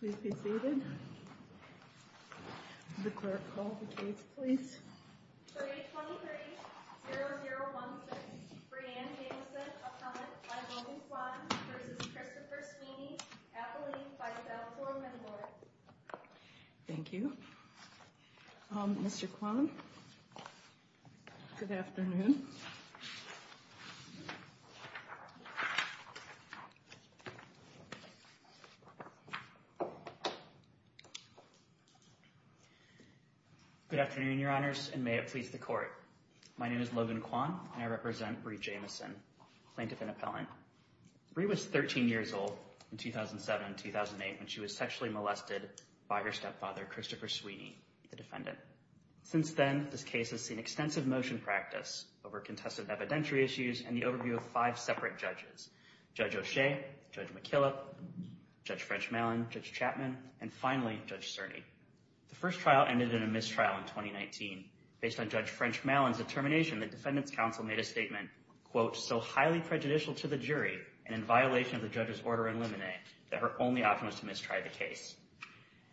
Please be seated. The clerk will call the case, please. 323-0016, Breanne Jamison, a comment by Romy Kwan v. Christopher Sweeney, appellee by file form and warrant. Thank you, Mr. Kwan. Good afternoon. Good afternoon, Your Honors, and may it please the court. My name is Logan Kwan, and I represent Bre Jamison, plaintiff and appellant. Bre was 13 years old in 2007-2008 when she was sexually molested by her stepfather, Christopher Sweeney, the defendant. Since then, this case has seen extensive motion practice over contested evidentiary issues and the overview of five separate judges. Judge O'Shea, Judge McKillop, Judge French-Mallin, Judge Chapman, and finally, Judge Cerny. The first trial ended in a mistrial in 2019. Based on Judge French-Mallin's determination, the Defendant's Counsel made a statement, quote, so highly prejudicial to the jury and in violation of the judge's order in limine that her only option was to mistry the case.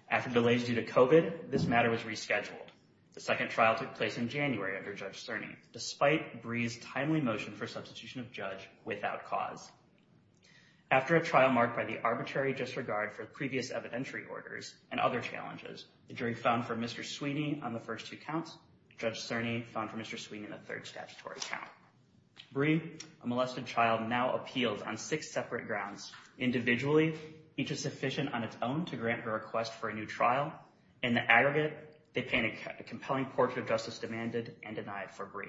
After delays due to COVID, this matter was rescheduled. The second trial took place in January under Judge Cerny, despite Bre's timely motion for substitution of judge without cause. After a trial marked by the arbitrary disregard for previous evidentiary orders and other challenges, the jury found for Mr. Sweeney on the first two counts, Judge Cerny found for Mr. Sweeney on the third statutory count. Bre, a molested child, now appeals on six separate grounds. Individually, each is sufficient on its own to grant a request for a new trial. In the aggregate, they paint a compelling portrait of justice demanded and denied for Bre.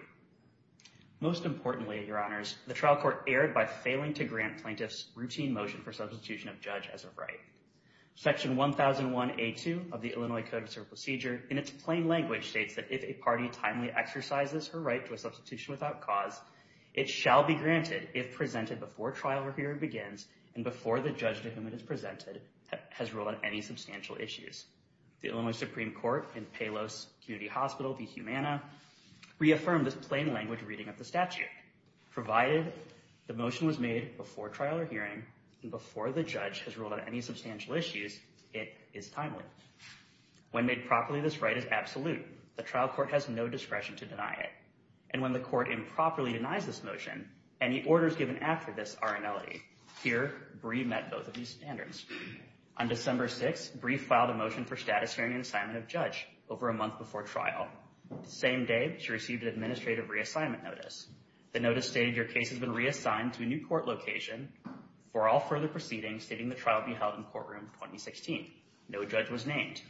Most importantly, Your Honors, the trial court erred by failing to grant plaintiffs routine motion for substitution of judge as of right. Section 1001A2 of the Illinois Code of Civil Procedure, in its plain language, states that if a party timely exercises her right to a substitution without cause, it shall be granted if presented before trial review begins and before the judge to whom it is presented has ruled on any substantial issues. The Illinois Supreme Court in Palos Community Hospital v. Humana reaffirmed this plain language reading of the statute. Provided the motion was made before trial or hearing and before the judge has ruled on any substantial issues, it is timely. When made properly, this right is absolute. The trial court has no discretion to deny it. And when the court improperly denies this motion, any orders given after this are annulled. Here, Bre met both of these standards. On December 6th, Bre filed a motion for status hearing and assignment of judge over a month before trial. The same day, she received an administrative reassignment notice. The notice stated your case has been reassigned to a new court location for all further proceedings, stating the trial be held in courtroom 2016. No judge was named.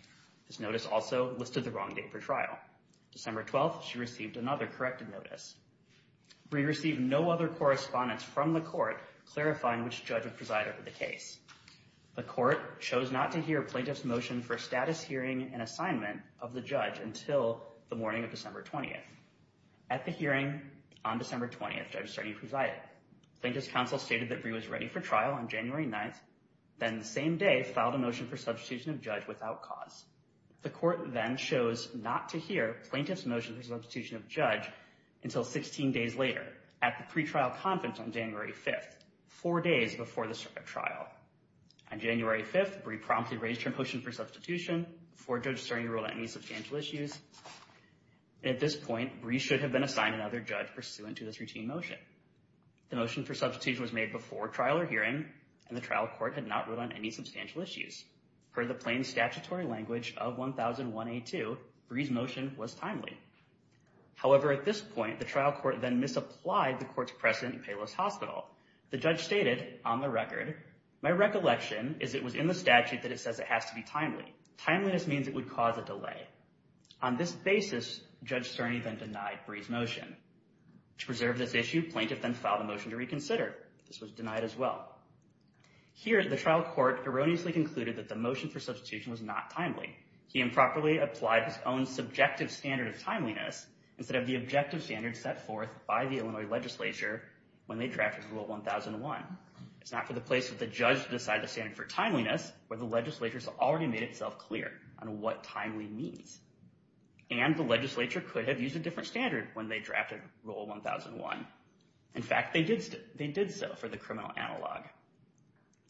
This notice also listed the wrong date for trial. December 12th, she received another corrected notice. Bre received no other correspondence from the court clarifying which judge would preside over the case. The court chose not to hear plaintiff's motion for status hearing and assignment of the judge until the morning of December 20th. At the hearing on December 20th, Judge Cerny presided. Plaintiff's counsel stated that Bre was ready for trial on January 9th, then the same day filed a motion for substitution of judge without cause. The court then chose not to hear plaintiff's motion for substitution of judge until 16 days later at the pretrial conference on January 5th, four days before the trial. On January 5th, Bre promptly raised her motion for substitution before Judge Cerny ruled on any substantial issues. At this point, Bre should have been assigned another judge pursuant to this routine motion. The motion for substitution was made before trial or hearing, and the trial court had not ruled on any substantial issues. Per the plain statutory language of 1001A2, Bre's motion was timely. However, at this point, the trial court then misapplied the court's precedent in Payless Hospital. The judge stated, on the record, my recollection is it was in the statute that it says it has to be timely. Timeliness means it would cause a delay. On this basis, Judge Cerny then denied Bre's motion. To preserve this issue, plaintiff then filed a motion to reconsider. This was denied as well. Here, the trial court erroneously concluded that the motion for substitution was not timely. He improperly applied his own subjective standard of timeliness instead of the objective standard set forth by the Illinois legislature when they drafted Rule 1001. It's not for the place that the judge decided the standard for timeliness, where the legislature has already made itself clear on what timely means. And the legislature could have used a different standard when they drafted Rule 1001. In fact, they did so for the criminal analog.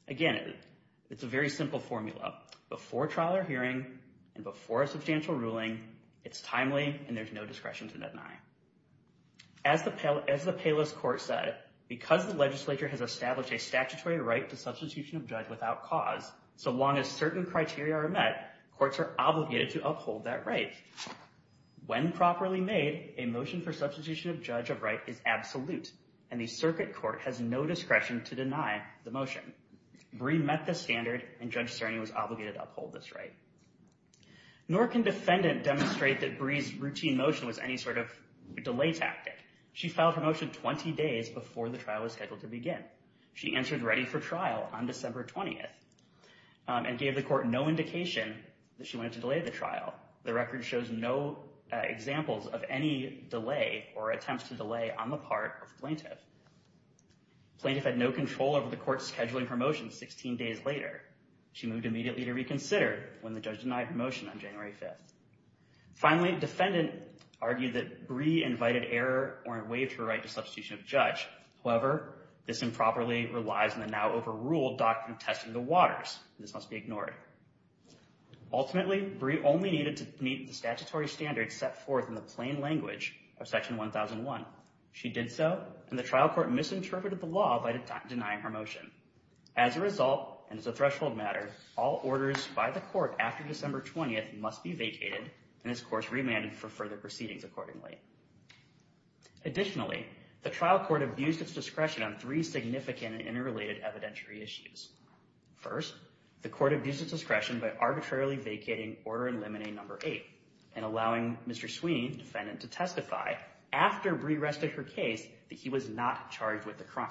Again, it's a very simple formula. Before trial or hearing and before a substantial ruling, it's timely and there's no discretion to deny. As the Payless court said, because the legislature has established a statutory right to substitution of judge without cause, so long as certain criteria are met, courts are obligated to uphold that right. When properly made, a motion for substitution of judge of right is absolute, and the circuit court has no discretion to deny the motion. Brie met the standard, and Judge Cerny was obligated to uphold this right. Nor can defendant demonstrate that Brie's routine motion was any sort of delay tactic. She filed her motion 20 days before the trial was scheduled to begin. She answered ready for trial on December 20th and gave the court no indication that she wanted to delay the trial. The record shows no examples of any delay or attempts to delay on the part of plaintiff. Plaintiff had no control over the court scheduling her motion 16 days later. She moved immediately to reconsider when the judge denied her motion on January 5th. Finally, defendant argued that Brie invited error or waived her right to substitution of judge. However, this improperly relies on the now overruled doctrine of testing the waters. This must be ignored. Ultimately, Brie only needed to meet the statutory standards set forth in the plain language of Section 1001. She did so, and the trial court misinterpreted the law by denying her motion. As a result, and as a threshold matter, all orders by the court after December 20th must be vacated and, of course, remanded for further proceedings accordingly. Additionally, the trial court abused its discretion on three significant and interrelated evidentiary issues. First, the court abused its discretion by arbitrarily vacating Order in Limine No. 8 and allowing Mr. Sweeney, defendant, to testify after Brie rested her case that he was not charged with the crime.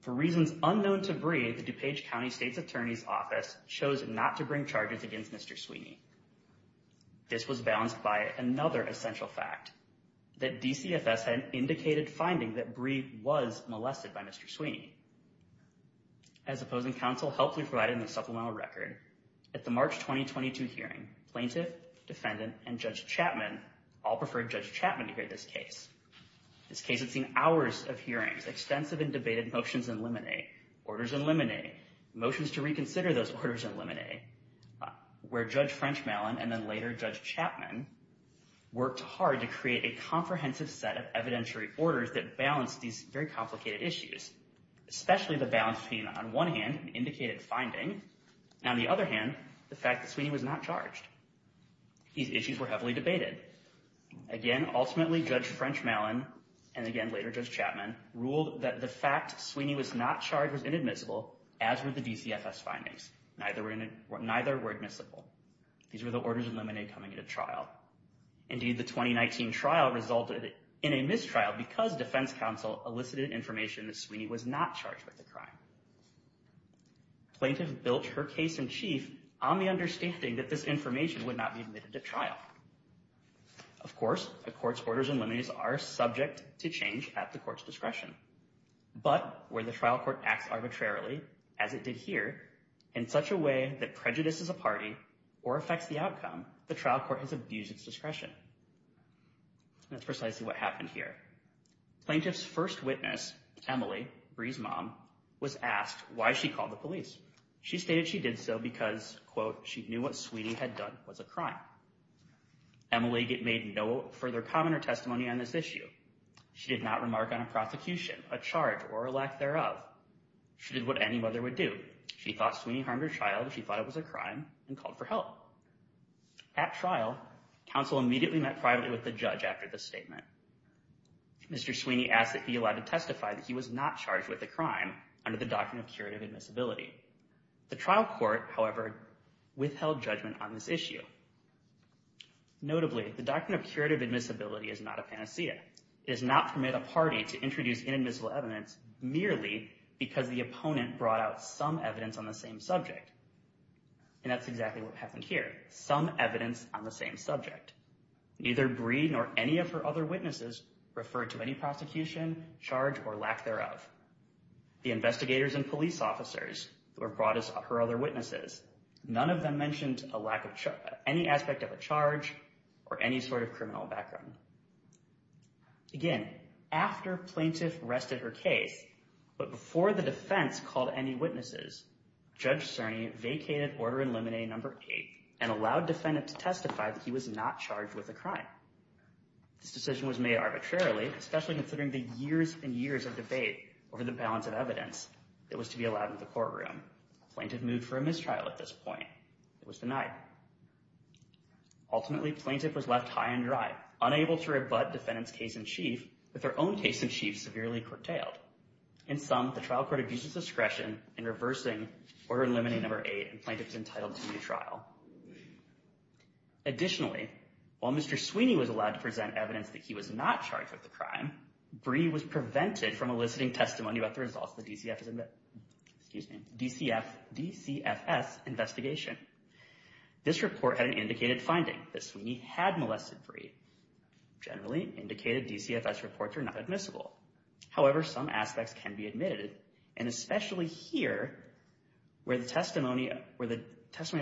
For reasons unknown to Brie, the DuPage County State's Attorney's Office chose not to bring charges against Mr. Sweeney. This was balanced by another essential fact, that DCFS had indicated finding that Brie was molested by Mr. Sweeney. As opposing counsel, helpfully provided in the supplemental record, at the March 2022 hearing, plaintiff, defendant, and Judge Chapman all preferred Judge Chapman to hear this case. This case had seen hours of hearings, extensive and debated motions in limine, orders in limine, motions to reconsider those orders in limine, where Judge Frenchmalen and then later Judge Chapman worked hard to create a comprehensive set of evidentiary orders that balanced these very complicated issues. Especially the balance between, on one hand, indicated finding, and on the other hand, the fact that Sweeney was not charged. These issues were heavily debated. Again, ultimately, Judge Frenchmalen, and again later Judge Chapman, ruled that the fact Sweeney was not charged was inadmissible, as were the DCFS findings. Neither were admissible. These were the orders in limine coming into trial. Indeed, the 2019 trial resulted in a mistrial because defense counsel elicited information that Sweeney was not charged with the crime. Plaintiff built her case in chief on the understanding that this information would not be admitted to trial. Of course, a court's orders in limine are subject to change at the court's discretion. But where the trial court acts arbitrarily, as it did here, in such a way that prejudices a party or affects the outcome, the trial court has abused its discretion. That's precisely what happened here. Plaintiff's first witness, Emily, Bree's mom, was asked why she called the police. She stated she did so because, quote, she knew what Sweeney had done was a crime. Emily made no further comment or testimony on this issue. She did not remark on a prosecution, a charge, or a lack thereof. She did what any mother would do. She thought Sweeney harmed her child. She thought it was a crime and called for help. At trial, counsel immediately met privately with the judge after the statement. Mr. Sweeney asked that he be allowed to testify that he was not charged with a crime under the doctrine of curative admissibility. The trial court, however, withheld judgment on this issue. Notably, the doctrine of curative admissibility is not a panacea. It is not permitted a party to introduce inadmissible evidence merely because the opponent brought out some evidence on the same subject. And that's exactly what happened here, some evidence on the same subject. Neither Bree nor any of her other witnesses referred to any prosecution, charge, or lack thereof. The investigators and police officers who have brought us her other witnesses, none of them mentioned any aspect of a charge or any sort of criminal background. Again, after plaintiff rested her case, but before the defense called any witnesses, Judge Cerny vacated Order in Limine No. 8 and allowed defendant to testify that he was not charged with a crime. This decision was made arbitrarily, especially considering the years and years of debate over the balance of evidence that was to be allowed in the courtroom. Plaintiff moved for a mistrial at this point. It was denied. Ultimately, plaintiff was left high and dry, unable to rebut defendant's case-in-chief, with her own case-in-chief severely curtailed. In sum, the trial court abuses discretion in reversing Order in Limine No. 8 and plaintiff's entitled to a new trial. Additionally, while Mr. Sweeney was allowed to present evidence that he was not charged with the crime, Brie was prevented from eliciting testimony about the results of the DCFS investigation. This report had an indicated finding that Sweeney had molested Brie. Generally, indicated DCFS reports are not admissible. However, some aspects can be admitted, and especially here, where the testimony of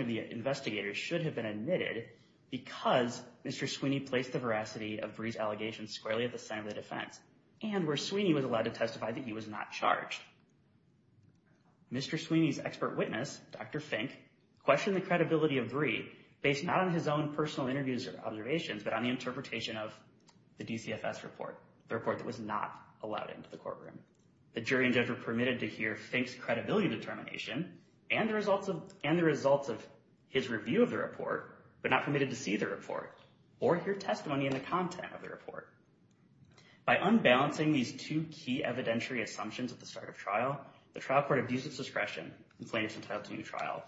the investigators should have been admitted because Mr. Sweeney placed the veracity of Brie's allegations squarely at the center of the defense, and where Sweeney was allowed to testify that he was not charged. Mr. Sweeney's expert witness, Dr. Fink, questioned the credibility of Brie based not on his own personal interviews or observations, but on the interpretation of the DCFS report, the report that was not allowed into the courtroom. The jury and judge were permitted to hear Fink's credibility determination and the results of his review of the report, but not permitted to see the report or hear testimony in the content of the report. By unbalancing these two key evidentiary assumptions at the start of trial, the trial court abused its discretion and plaintiffs entitled to a new trial.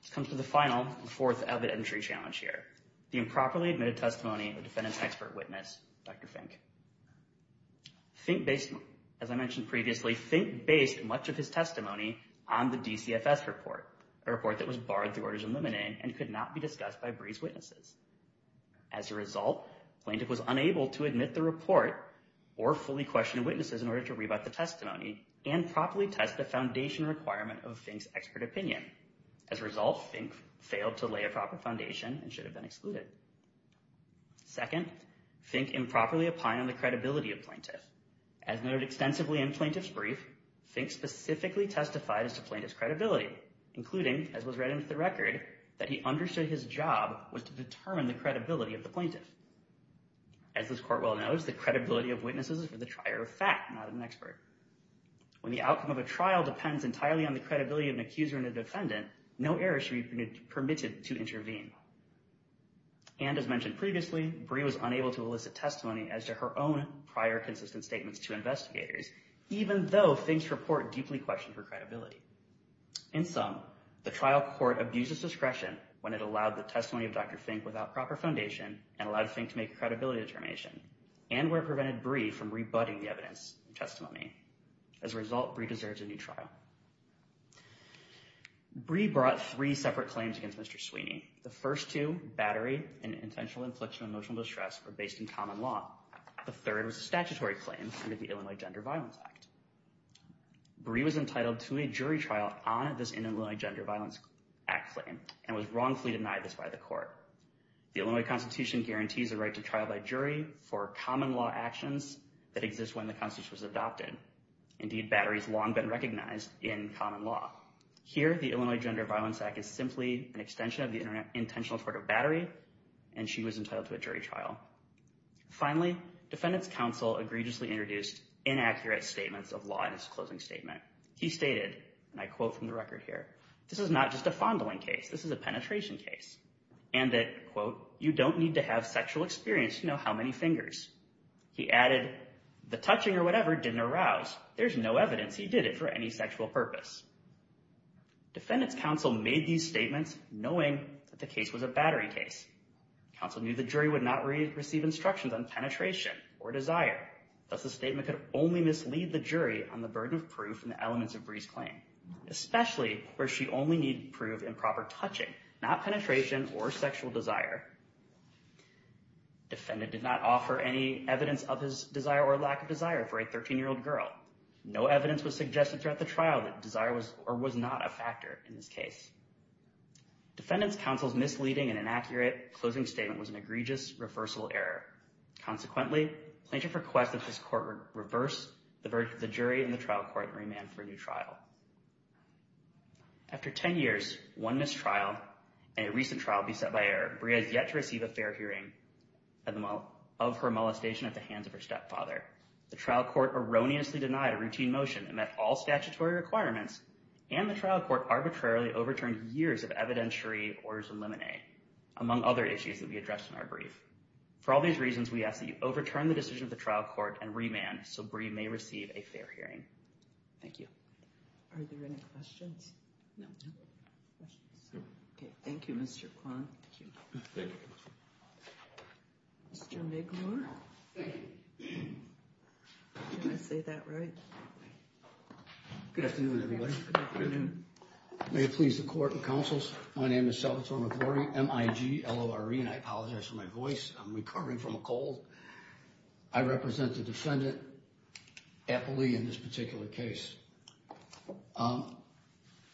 This comes to the final and fourth evidentiary challenge here, the improperly admitted testimony of the defendant's expert witness, Dr. Fink. Fink based, as I mentioned previously, Fink based much of his testimony on the DCFS report, a report that was barred through orders of limine and could not be discussed by Brie's witnesses. As a result, plaintiff was unable to admit the report or fully question witnesses in order to rebut the testimony and properly test the foundation requirement of Fink's expert opinion. As a result, Fink failed to lay a proper foundation and should have been excluded. Second, Fink improperly opined on the credibility of plaintiff. As noted extensively in plaintiff's brief, Fink specifically testified as to plaintiff's credibility, including, as was read into the record, that he understood his job was to determine the credibility of the plaintiff. As this court well knows, the credibility of witnesses is for the trier of fact, not an expert. When the outcome of a trial depends entirely on the credibility of an accuser and a defendant, no error should be permitted to intervene. And as mentioned previously, Brie was unable to elicit testimony as to her own prior consistent statements to investigators, even though Fink's report deeply questioned her credibility. In sum, the trial court abuses discretion when it allowed the testimony of Dr. Fink without proper foundation and allowed Fink to make a credibility determination and where it prevented Brie from rebutting the evidence and testimony. As a result, Brie deserves a new trial. Brie brought three separate claims against Mr. Sweeney. The first two, battery and intentional infliction of emotional distress, were based in common law. The third was a statutory claim under the Illinois Gender Violence Act. Brie was entitled to a jury trial on this Illinois Gender Violence Act claim and was wrongfully denied this by the court. The Illinois Constitution guarantees the right to trial by jury for common law actions that exist when the Constitution was adopted. Indeed, battery has long been recognized in common law. Here, the Illinois Gender Violence Act is simply an extension of the intentional tort of battery, and she was entitled to a jury trial. Finally, defendants' counsel egregiously introduced inaccurate statements of law in his closing statement. He stated, and I quote from the record here, this is not just a fondling case, this is a penetration case. And that, quote, you don't need to have sexual experience to know how many fingers. He added, the touching or whatever didn't arouse. There's no evidence he did it for any sexual purpose. Defendants' counsel made these statements knowing that the case was a battery case. Counsel knew the jury would not receive instructions on penetration or desire. Thus, the statement could only mislead the jury on the burden of proof in the elements of Brie's claim, especially where she only needed proof in proper touching, not penetration or sexual desire. Defendant did not offer any evidence of his desire or lack of desire for a 13-year-old girl. No evidence was suggested throughout the trial that desire was or was not a factor in this case. Defendants' counsel's misleading and inaccurate closing statement was an egregious reversal error. Consequently, plaintiff requested his court reverse the verdict of the jury in the trial court and remand for a new trial. After 10 years, one mistrial, and a recent trial beset by error, Brie has yet to receive a fair hearing of her molestation at the hands of her stepfather. The trial court erroneously denied a routine motion that met all statutory requirements, and the trial court arbitrarily overturned years of evidentiary orders of limine among other issues that we addressed in our brief. For all these reasons, we ask that you overturn the decision of the trial court and remand so Brie may receive a fair hearing. Thank you. Are there any questions? No. Okay, thank you, Mr. Kwan. Thank you. Thank you. Mr. McClure? Thank you. Did I say that right? Good afternoon, everybody. Good afternoon. May it please the court and counsels, my name is Salvatore McClure, M-I-G-L-O-R-E, and I apologize for my voice. I'm recovering from a cold. I represent the defendant, Appley, in this particular case.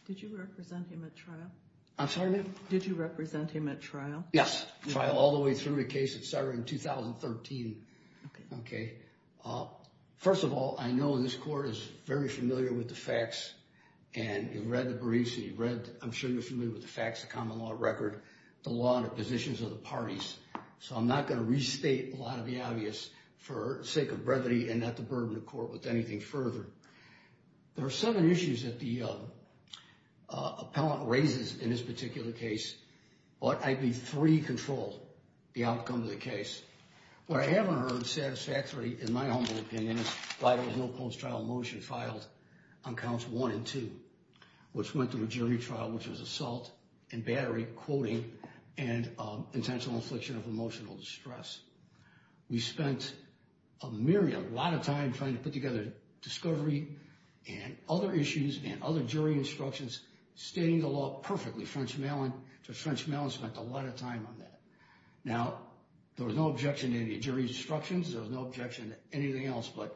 Did you represent him at trial? I'm sorry, ma'am? Did you represent him at trial? Yes, trial, all the way through the case. It started in 2013. Okay. First of all, I know this court is very familiar with the facts, and you've read the briefs, and you've read, I'm sure you're familiar with the facts, the common law record, the law and the positions of the parties. So I'm not going to restate a lot of the obvious for sake of brevity and not to burden the court with anything further. There are seven issues that the appellant raises in this particular case. But I believe three control the outcome of the case. What I haven't heard satisfactorily, in my humble opinion, is why there was no post-trial motion filed on counts one and two, which went through a jury trial, which was assault and battery, quoting, and intentional infliction of emotional distress. We spent a myriad, a lot of time trying to put together discovery and other issues and other jury instructions, stating the law perfectly, French Malon. Judge French Malon spent a lot of time on that. Now, there was no objection to any jury instructions. There was no objection to anything else. But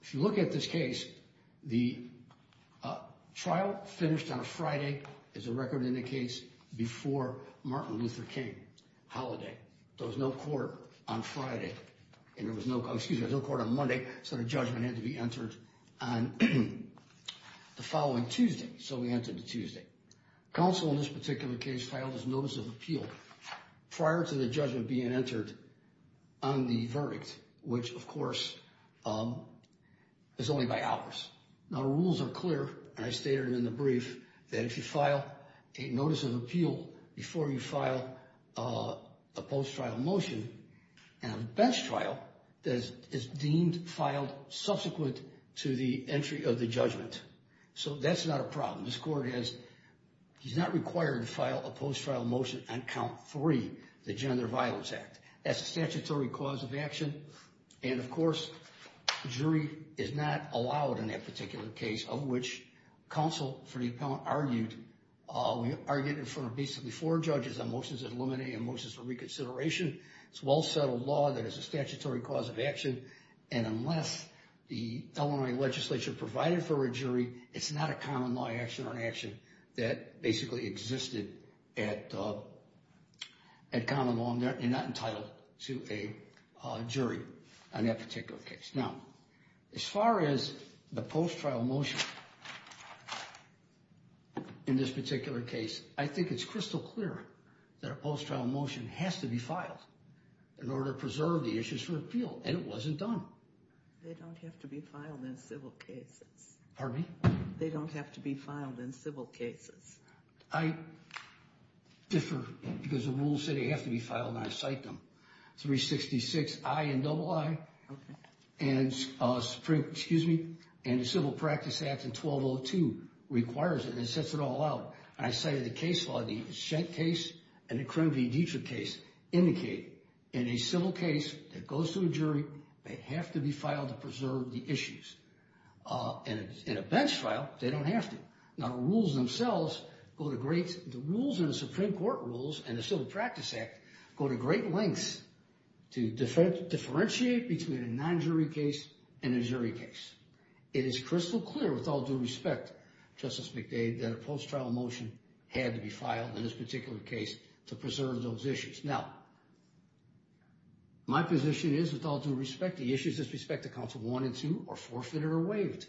if you look at this case, the trial finished on a Friday, as the record indicates, before Martin Luther King holiday. There was no court on Friday. And there was no, excuse me, no court on Monday. So the judgment had to be entered on the following Tuesday. So we entered the Tuesday. Counsel in this particular case filed his notice of appeal prior to the judgment being entered on the verdict, which, of course, is only by hours. Now, the rules are clear, and I stated it in the brief, that if you file a notice of appeal before you file a post-trial motion, and a bench trial is deemed filed subsequent to the entry of the judgment. So that's not a problem. This court has, he's not required to file a post-trial motion on count three, the Gender Violence Act. That's a statutory cause of action. And, of course, jury is not allowed in that particular case, of which counsel for the appellant argued. We argued in front of basically four judges on motions that eliminate and motions for reconsideration. It's a well-settled law that is a statutory cause of action. And unless the Illinois legislature provided for a jury, it's not a common law action or an action that basically existed at common law. And you're not entitled to a jury on that particular case. Now, as far as the post-trial motion in this particular case, I think it's crystal clear that a post-trial motion has to be filed in order to preserve the issues for appeal. And it wasn't done. They don't have to be filed in civil cases. Pardon me? They don't have to be filed in civil cases. I differ because the rules say they have to be filed, and I cite them. 366 I and double I, and the Civil Practice Act in 1202 requires it and sets it all out. And I cited the case law, the Shett case and the Crumb v. Dietrich case indicate in a civil case that goes to a jury, they have to be filed to preserve the issues. And in a bench file, they don't have to. Now, the rules themselves, the rules in the Supreme Court rules and the Civil Practice Act go to great lengths to differentiate between a non-jury case and a jury case. It is crystal clear, with all due respect, Justice McDade, that a post-trial motion had to be filed in this particular case to preserve those issues. Now, my position is, with all due respect, the issues with respect to Council 1 and 2 are forfeited or waived.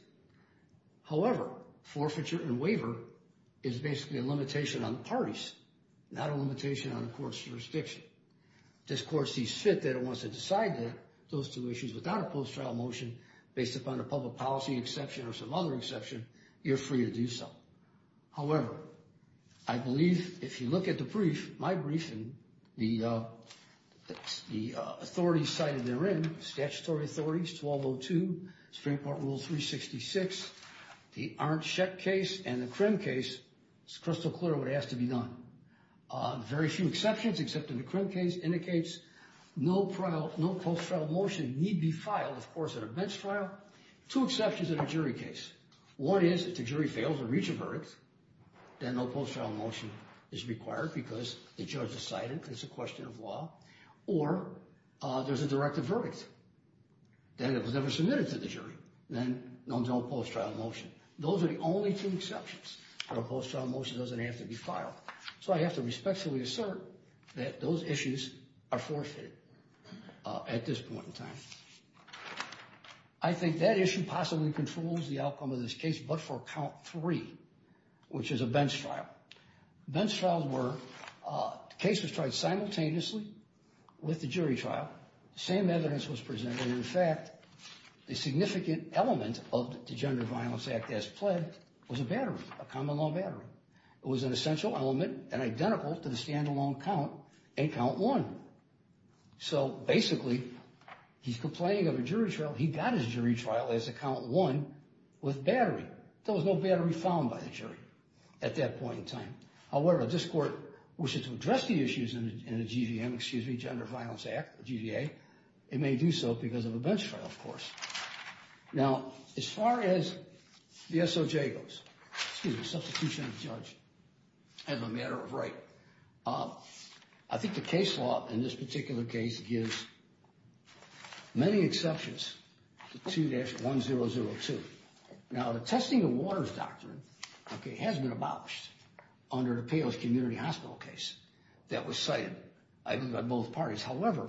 However, forfeiture and waiver is basically a limitation on the parties, not a limitation on a court's jurisdiction. This court sees fit that it wants to decide that those two issues without a post-trial motion, based upon a public policy exception or some other exception, you're free to do so. However, I believe if you look at the brief, my brief, and the authorities cited therein, statutory authorities, 1202, Supreme Court Rule 366, the Arndt-Shett case and the Crumb case, it's crystal clear what has to be done. Very few exceptions, except in the Crumb case, indicates no post-trial motion need be filed, of course, in a bench trial. There are two exceptions in a jury case. One is, if the jury fails to reach a verdict, then no post-trial motion is required because the judge decided it's a question of law. Or, there's a directed verdict, then it was never submitted to the jury, then no post-trial motion. Those are the only two exceptions. No post-trial motion doesn't have to be filed. So I have to respectfully assert that those issues are forfeited at this point in time. I think that issue possibly controls the outcome of this case, but for count three, which is a bench trial. Bench trials were cases tried simultaneously with the jury trial. The same evidence was presented. In fact, a significant element of the Gender Violence Act as pled was a battery, a common law battery. It was an essential element and identical to the stand-alone count in count one. So, basically, he's complaining of a jury trial. He got his jury trial as a count one with battery. There was no battery found by the jury at that point in time. However, if this court wishes to address the issues in the GVM, excuse me, Gender Violence Act, GVA, it may do so because of a bench trial, of course. Now, as far as the SOJ goes, excuse me, substitution of the judge as a matter of right, I think the case law in this particular case gives many exceptions to 2-1002. Now, the testing of waters doctrine has been abolished under the Palos Community Hospital case that was cited by both parties. However,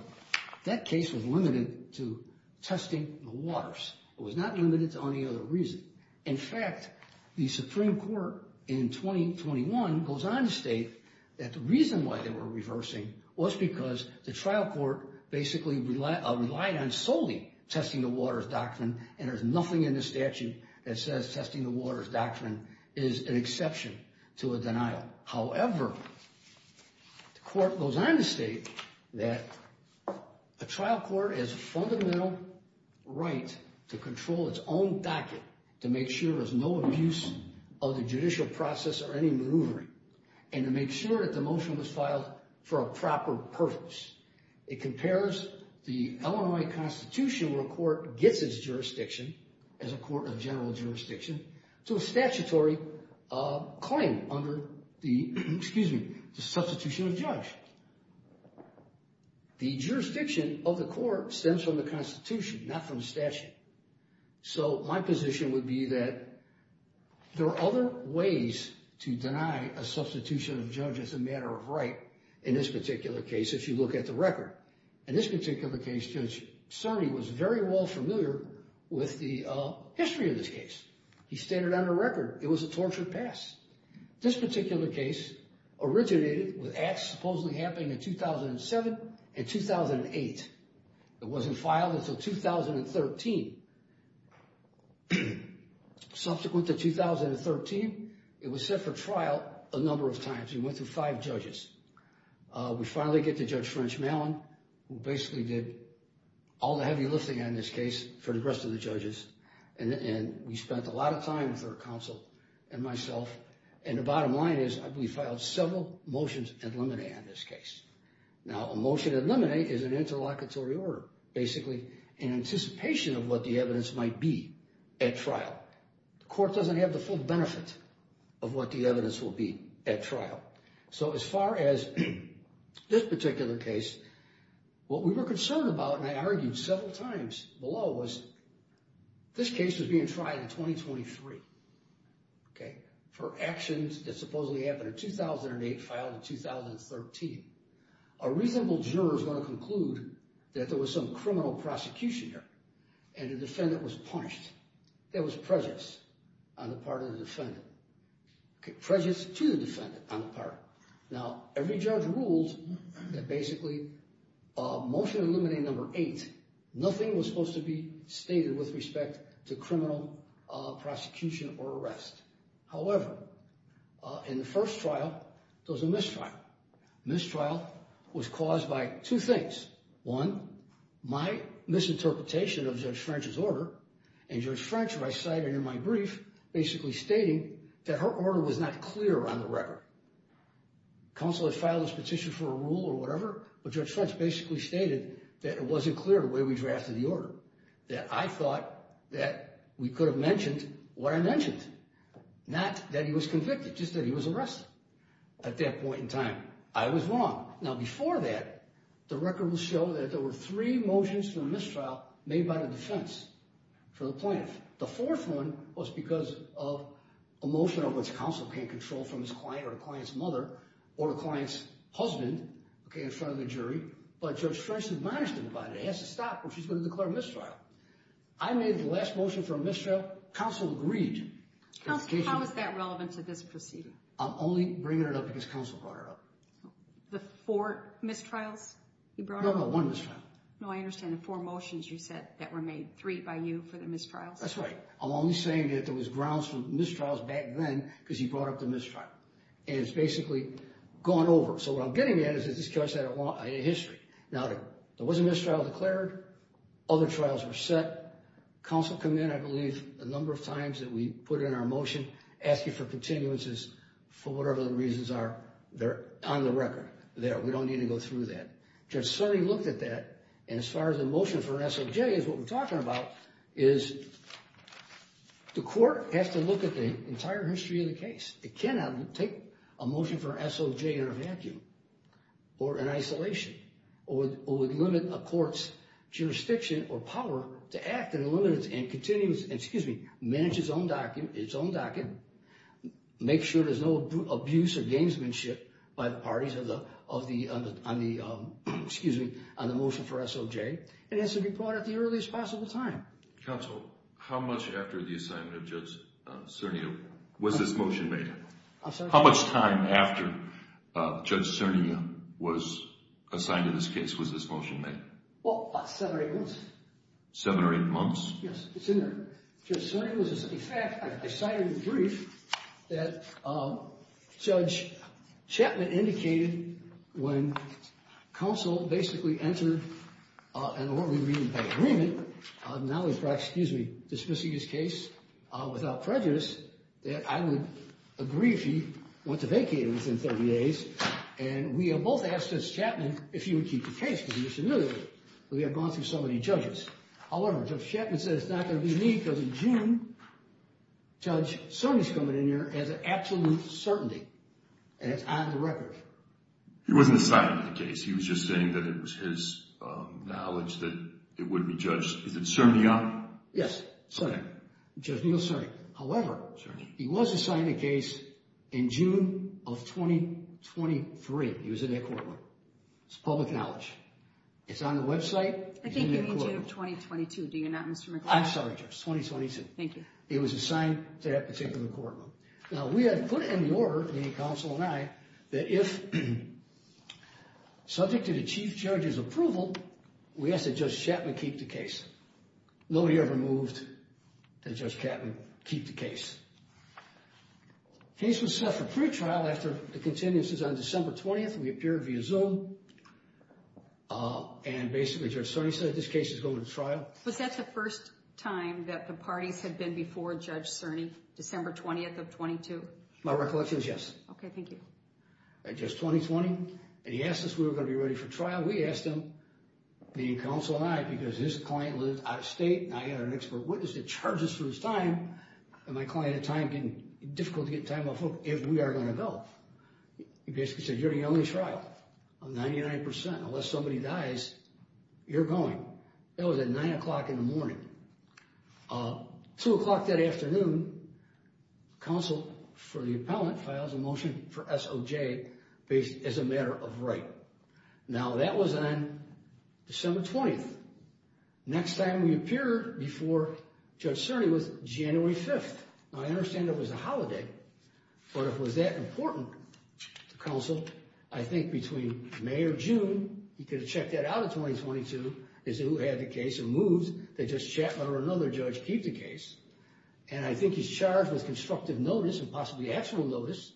that case was limited to testing the waters. It was not limited to any other reason. In fact, the Supreme Court in 2021 goes on to state that the reason why they were reversing was because the trial court basically relied on solely testing the waters doctrine and there's nothing in the statute that says testing the waters doctrine is an exception to a denial. However, the court goes on to state that a trial court has a fundamental right to control its own docket to make sure there's no abuse of the judicial process or any maneuvering and to make sure that the motion was filed for a proper purpose. It compares the Illinois Constitution where a court gets its jurisdiction as a court of general jurisdiction to a statutory claim under the substitution of judge. The jurisdiction of the court stems from the Constitution, not from the statute. So my position would be that there are other ways to deny a substitution of judge as a matter of right in this particular case. If you look at the record, in this particular case, Judge Sonny was very well familiar with the history of this case. He stated on the record it was a tortured past. This particular case originated with acts supposedly happening in 2007 and 2008. It wasn't filed until 2013. Subsequent to 2013, it was set for trial a number of times. We went through five judges. We finally get to Judge French Mallon, who basically did all the heavy lifting on this case for the rest of the judges. And we spent a lot of time with our counsel and myself. And the bottom line is we filed several motions ad limine on this case. Now, a motion ad limine is an interlocutory order, basically an anticipation of what the evidence might be at trial. The court doesn't have the full benefit of what the evidence will be at trial. So as far as this particular case, what we were concerned about, and I argued several times below, was this case was being tried in 2023, okay, for actions that supposedly happened in 2008, filed in 2013. A reasonable juror is going to conclude that there was some criminal prosecution here and the defendant was punished. There was prejudice on the part of the defendant, prejudice to the defendant on the part. Now, every judge ruled that basically motion ad limine number eight, nothing was supposed to be stated with respect to criminal prosecution or arrest. However, in the first trial, there was a mistrial. Mistrial was caused by two things. One, my misinterpretation of Judge French's order, and Judge French recited in my brief basically stating that her order was not clear on the record. Counselor filed this petition for a rule or whatever, but Judge French basically stated that it wasn't clear the way we drafted the order, that I thought that we could have mentioned what I mentioned, not that he was convicted, just that he was arrested at that point in time. I was wrong. Now, before that, the record will show that there were three motions for mistrial made by the defense for the plaintiff. The fourth one was because of a motion of which counsel can't control from his client or the client's mother or the client's husband in front of the jury, but Judge French admonished him about it. It has to stop or she's going to declare a mistrial. I made the last motion for a mistrial. Counsel agreed. Counsel, how is that relevant to this proceeding? I'm only bringing it up because counsel brought it up. The four mistrials you brought up? No, no, one mistrial. No, I understand. The four motions you said that were made, three by you for the mistrials? That's right. I'm only saying that there was grounds for mistrials back then because he brought up the mistrial. And it's basically gone over. So what I'm getting at is that this case had a history. Now, there was a mistrial declared. Other trials were set. Counsel came in, I believe, a number of times that we put in our motion asking for continuances for whatever the reasons are. They're on the record there. We don't need to go through that. Judge Surry looked at that, and as far as the motion for SOJ is what we're talking about, is the court has to look at the entire history of the case. It cannot take a motion for SOJ in a vacuum or in isolation or limit a court's jurisdiction or power to act in a limited and continuous, excuse me, manage its own docket, make sure there's no abuse of gamesmanship by the parties on the motion for SOJ. It has to be brought at the earliest possible time. Counsel, how much after the assignment of Judge Cernia was this motion made? I'm sorry? How much time after Judge Cernia was assigned to this case was this motion made? Well, about seven or eight months. Seven or eight months? Yes, it's in there. Judge Cernia was assigned to the brief that Judge Chapman indicated when counsel basically entered an orderly re-impact agreement, not only dismissing his case without prejudice, that I would agree if he went to vacate it within 30 days, and we both asked Judge Chapman if he would keep the case because he was familiar with it. We had gone through so many judges. However, Judge Chapman said it's not going to be me because in June, Judge Cernia's coming in here as an absolute certainty, and it's on the record. He wasn't assigned to the case. He was just saying that it was his knowledge that it would be judged. Is it Cernia? Yes, Cernia, Judge Neil Cernia. However, he was assigned to the case in June of 2023. He was in that courtroom. It's public knowledge. It's on the website. I think you mean June of 2022, do you not, Mr. McLaughlin? I'm sorry, Judge, 2022. Thank you. He was assigned to that particular courtroom. Now, we had put in the order, me, counsel, and I, that if subject to the chief judge's approval, we asked that Judge Chapman keep the case. Nobody ever moved that Judge Chapman keep the case. The case was set for pretrial after the contingencies on December 20th. We appeared via Zoom, and basically Judge Cernia said this case is going to trial. Was that the first time that the parties had been before Judge Cernia, December 20th of 22? My recollection is yes. Okay, thank you. At Judge 2020, and he asked us if we were going to be ready for trial. We asked him, me and counsel and I, because his client lives out of state, and I had an expert witness that charged us for his time, and my client had difficulty getting time off work, if we are going to go. He basically said, you're the only trial. I'm 99%. Unless somebody dies, you're going. That was at 9 o'clock in the morning. 2 o'clock that afternoon, counsel for the appellant files a motion for SOJ as a matter of right. Now, that was on December 20th. Next time we appeared before Judge Cernia was January 5th. Now, I understand it was a holiday, but if it was that important to counsel, I think between May or June, he could have checked that out in 2022, as to who had the case and moved that Judge Chapman or another judge keep the case, and I think he's charged with constructive notice and possibly actual notice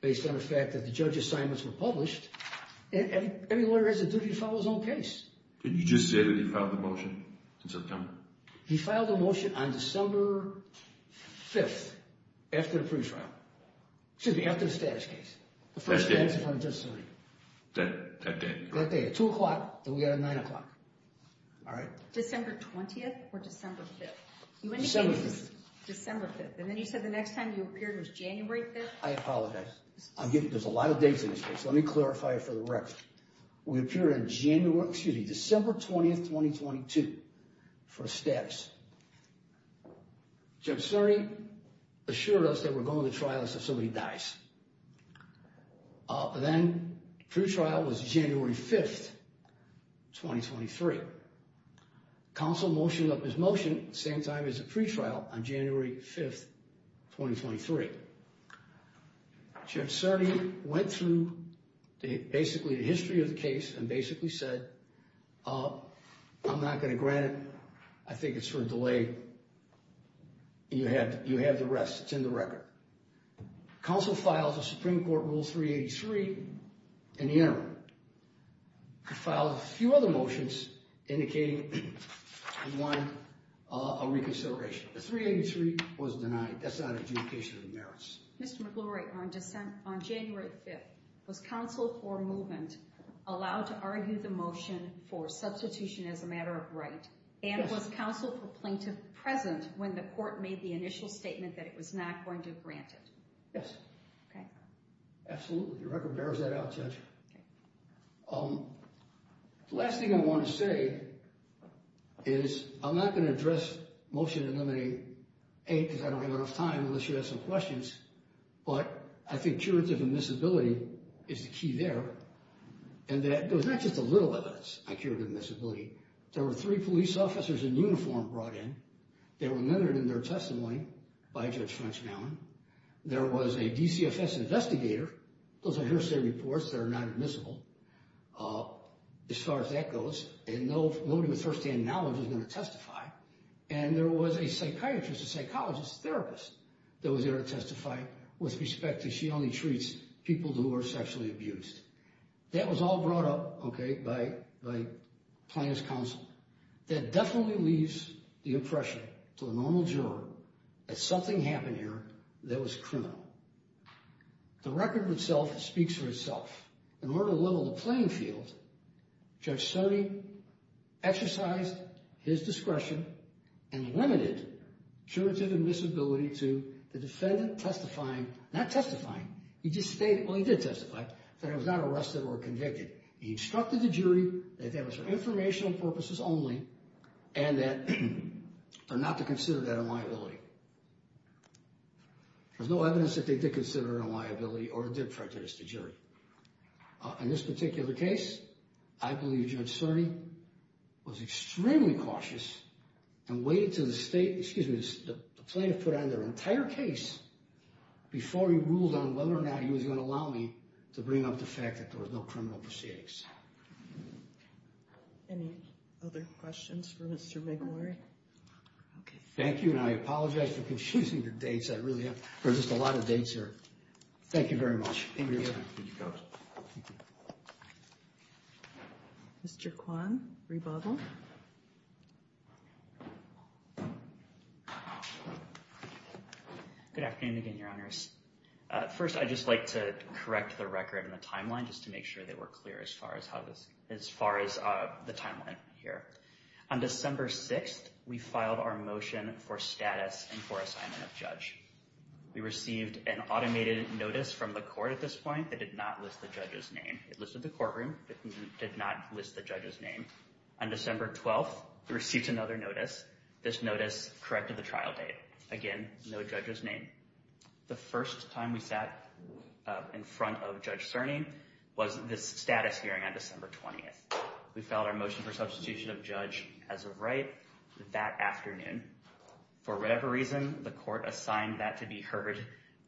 based on the fact that the judge assignments were published. Any lawyer has a duty to file his own case. You just said that he filed the motion in September. He filed the motion on December 5th after the pre-trial. Excuse me, after the status case. That day. That day at 2 o'clock, then we got it at 9 o'clock. December 20th or December 5th? December 5th. And then you said the next time you appeared was January 5th? I apologize. Let me clarify it for the record. We appear in January, excuse me, December 20th, 2022 for status. Judge Cernia assured us that we're going to trial if somebody dies. Then pre-trial was January 5th, 2023. Counsel motioned up his motion at the same time as the pre-trial on January 5th, 2023. Judge Cernia went through basically the history of the case and basically said, I'm not going to grant it. I think it's for a delay. You have the rest. It's in the record. Counsel filed the Supreme Court Rule 383 in the interim. He filed a few other motions indicating he wanted a reconsideration. The 383 was denied. That's not adjudication of merits. Mr. McGlory, on January 5th, was counsel for movement allowed to argue the motion for substitution as a matter of right? Yes. And was counsel for plaintiff present when the court made the initial statement that it was not going to grant it? Yes. Absolutely. The record bears that out, Judge. Okay. The last thing I want to say is I'm not going to address Motion to Eliminate 8 because I don't have enough time unless you have some questions. But I think curative admissibility is the key there. And there was not just a little evidence on curative admissibility. There were three police officers in uniform brought in. They were mentored in their testimony by Judge French-Mallon. There was a DCFS investigator. Those are hearsay reports that are not admissible as far as that goes. And nobody with first-hand knowledge is going to testify. And there was a psychiatrist, a psychologist, a therapist that was there to testify with respect to she only treats people who are sexually abused. That was all brought up, okay, by plaintiff's counsel. That definitely leaves the impression to a normal juror that something happened here that was criminal. The record itself speaks for itself. In order to level the playing field, Judge Stoney exercised his discretion and limited curative admissibility to the defendant testifying—not testifying. He just stated—well, he did testify—that he was not arrested or convicted. He instructed the jury that that was for informational purposes only and that—or not to consider that a liability. There's no evidence that they did consider it a liability or did prejudice the jury. In this particular case, I believe Judge Stoney was extremely cautious and waited until the state—excuse me, the plaintiff put on their entire case before he ruled on whether or not he was going to allow me to bring up the fact that there was no criminal proceedings. Any other questions for Mr. McElroy? Thank you, and I apologize for confusing the dates. There are just a lot of dates here. Thank you very much. Mr. Kwan, rebuttal. Good afternoon again, Your Honors. First, I'd just like to correct the record and the timeline just to make sure that we're clear as far as the timeline here. On December 6th, we filed our motion for status and for assignment of judge. We received an automated notice from the court at this point that did not list the judge's name. It listed the courtroom, but did not list the judge's name. On December 12th, we received another notice. This notice corrected the trial date. Again, no judge's name. The first time we sat in front of Judge Cerny was this status hearing on December 20th. We filed our motion for substitution of judge as of right that afternoon. For whatever reason, the court assigned that to be heard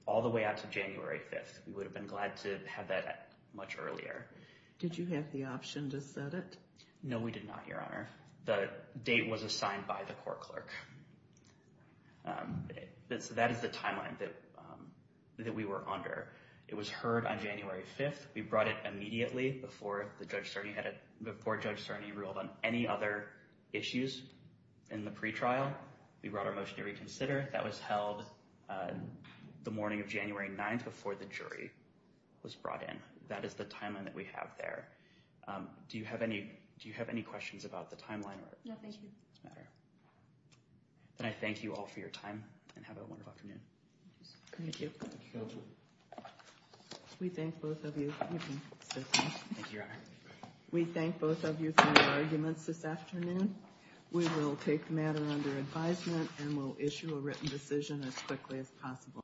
all the way out to January 5th. We would have been glad to have that much earlier. Did you have the option to set it? No, we did not, Your Honor. The date was assigned by the court clerk. That is the timeline that we were under. It was heard on January 5th. We brought it immediately before Judge Cerny ruled on any other issues in the pretrial. We brought our motion to reconsider. That was held the morning of January 9th before the jury was brought in. That is the timeline that we have there. Do you have any questions about the timeline? No, thank you. Then I thank you all for your time and have a wonderful afternoon. Thank you. We thank both of you. Thank you, Your Honor. We thank both of you for your arguments this afternoon. We will take the matter under advisement and will issue a written decision as quickly as possible.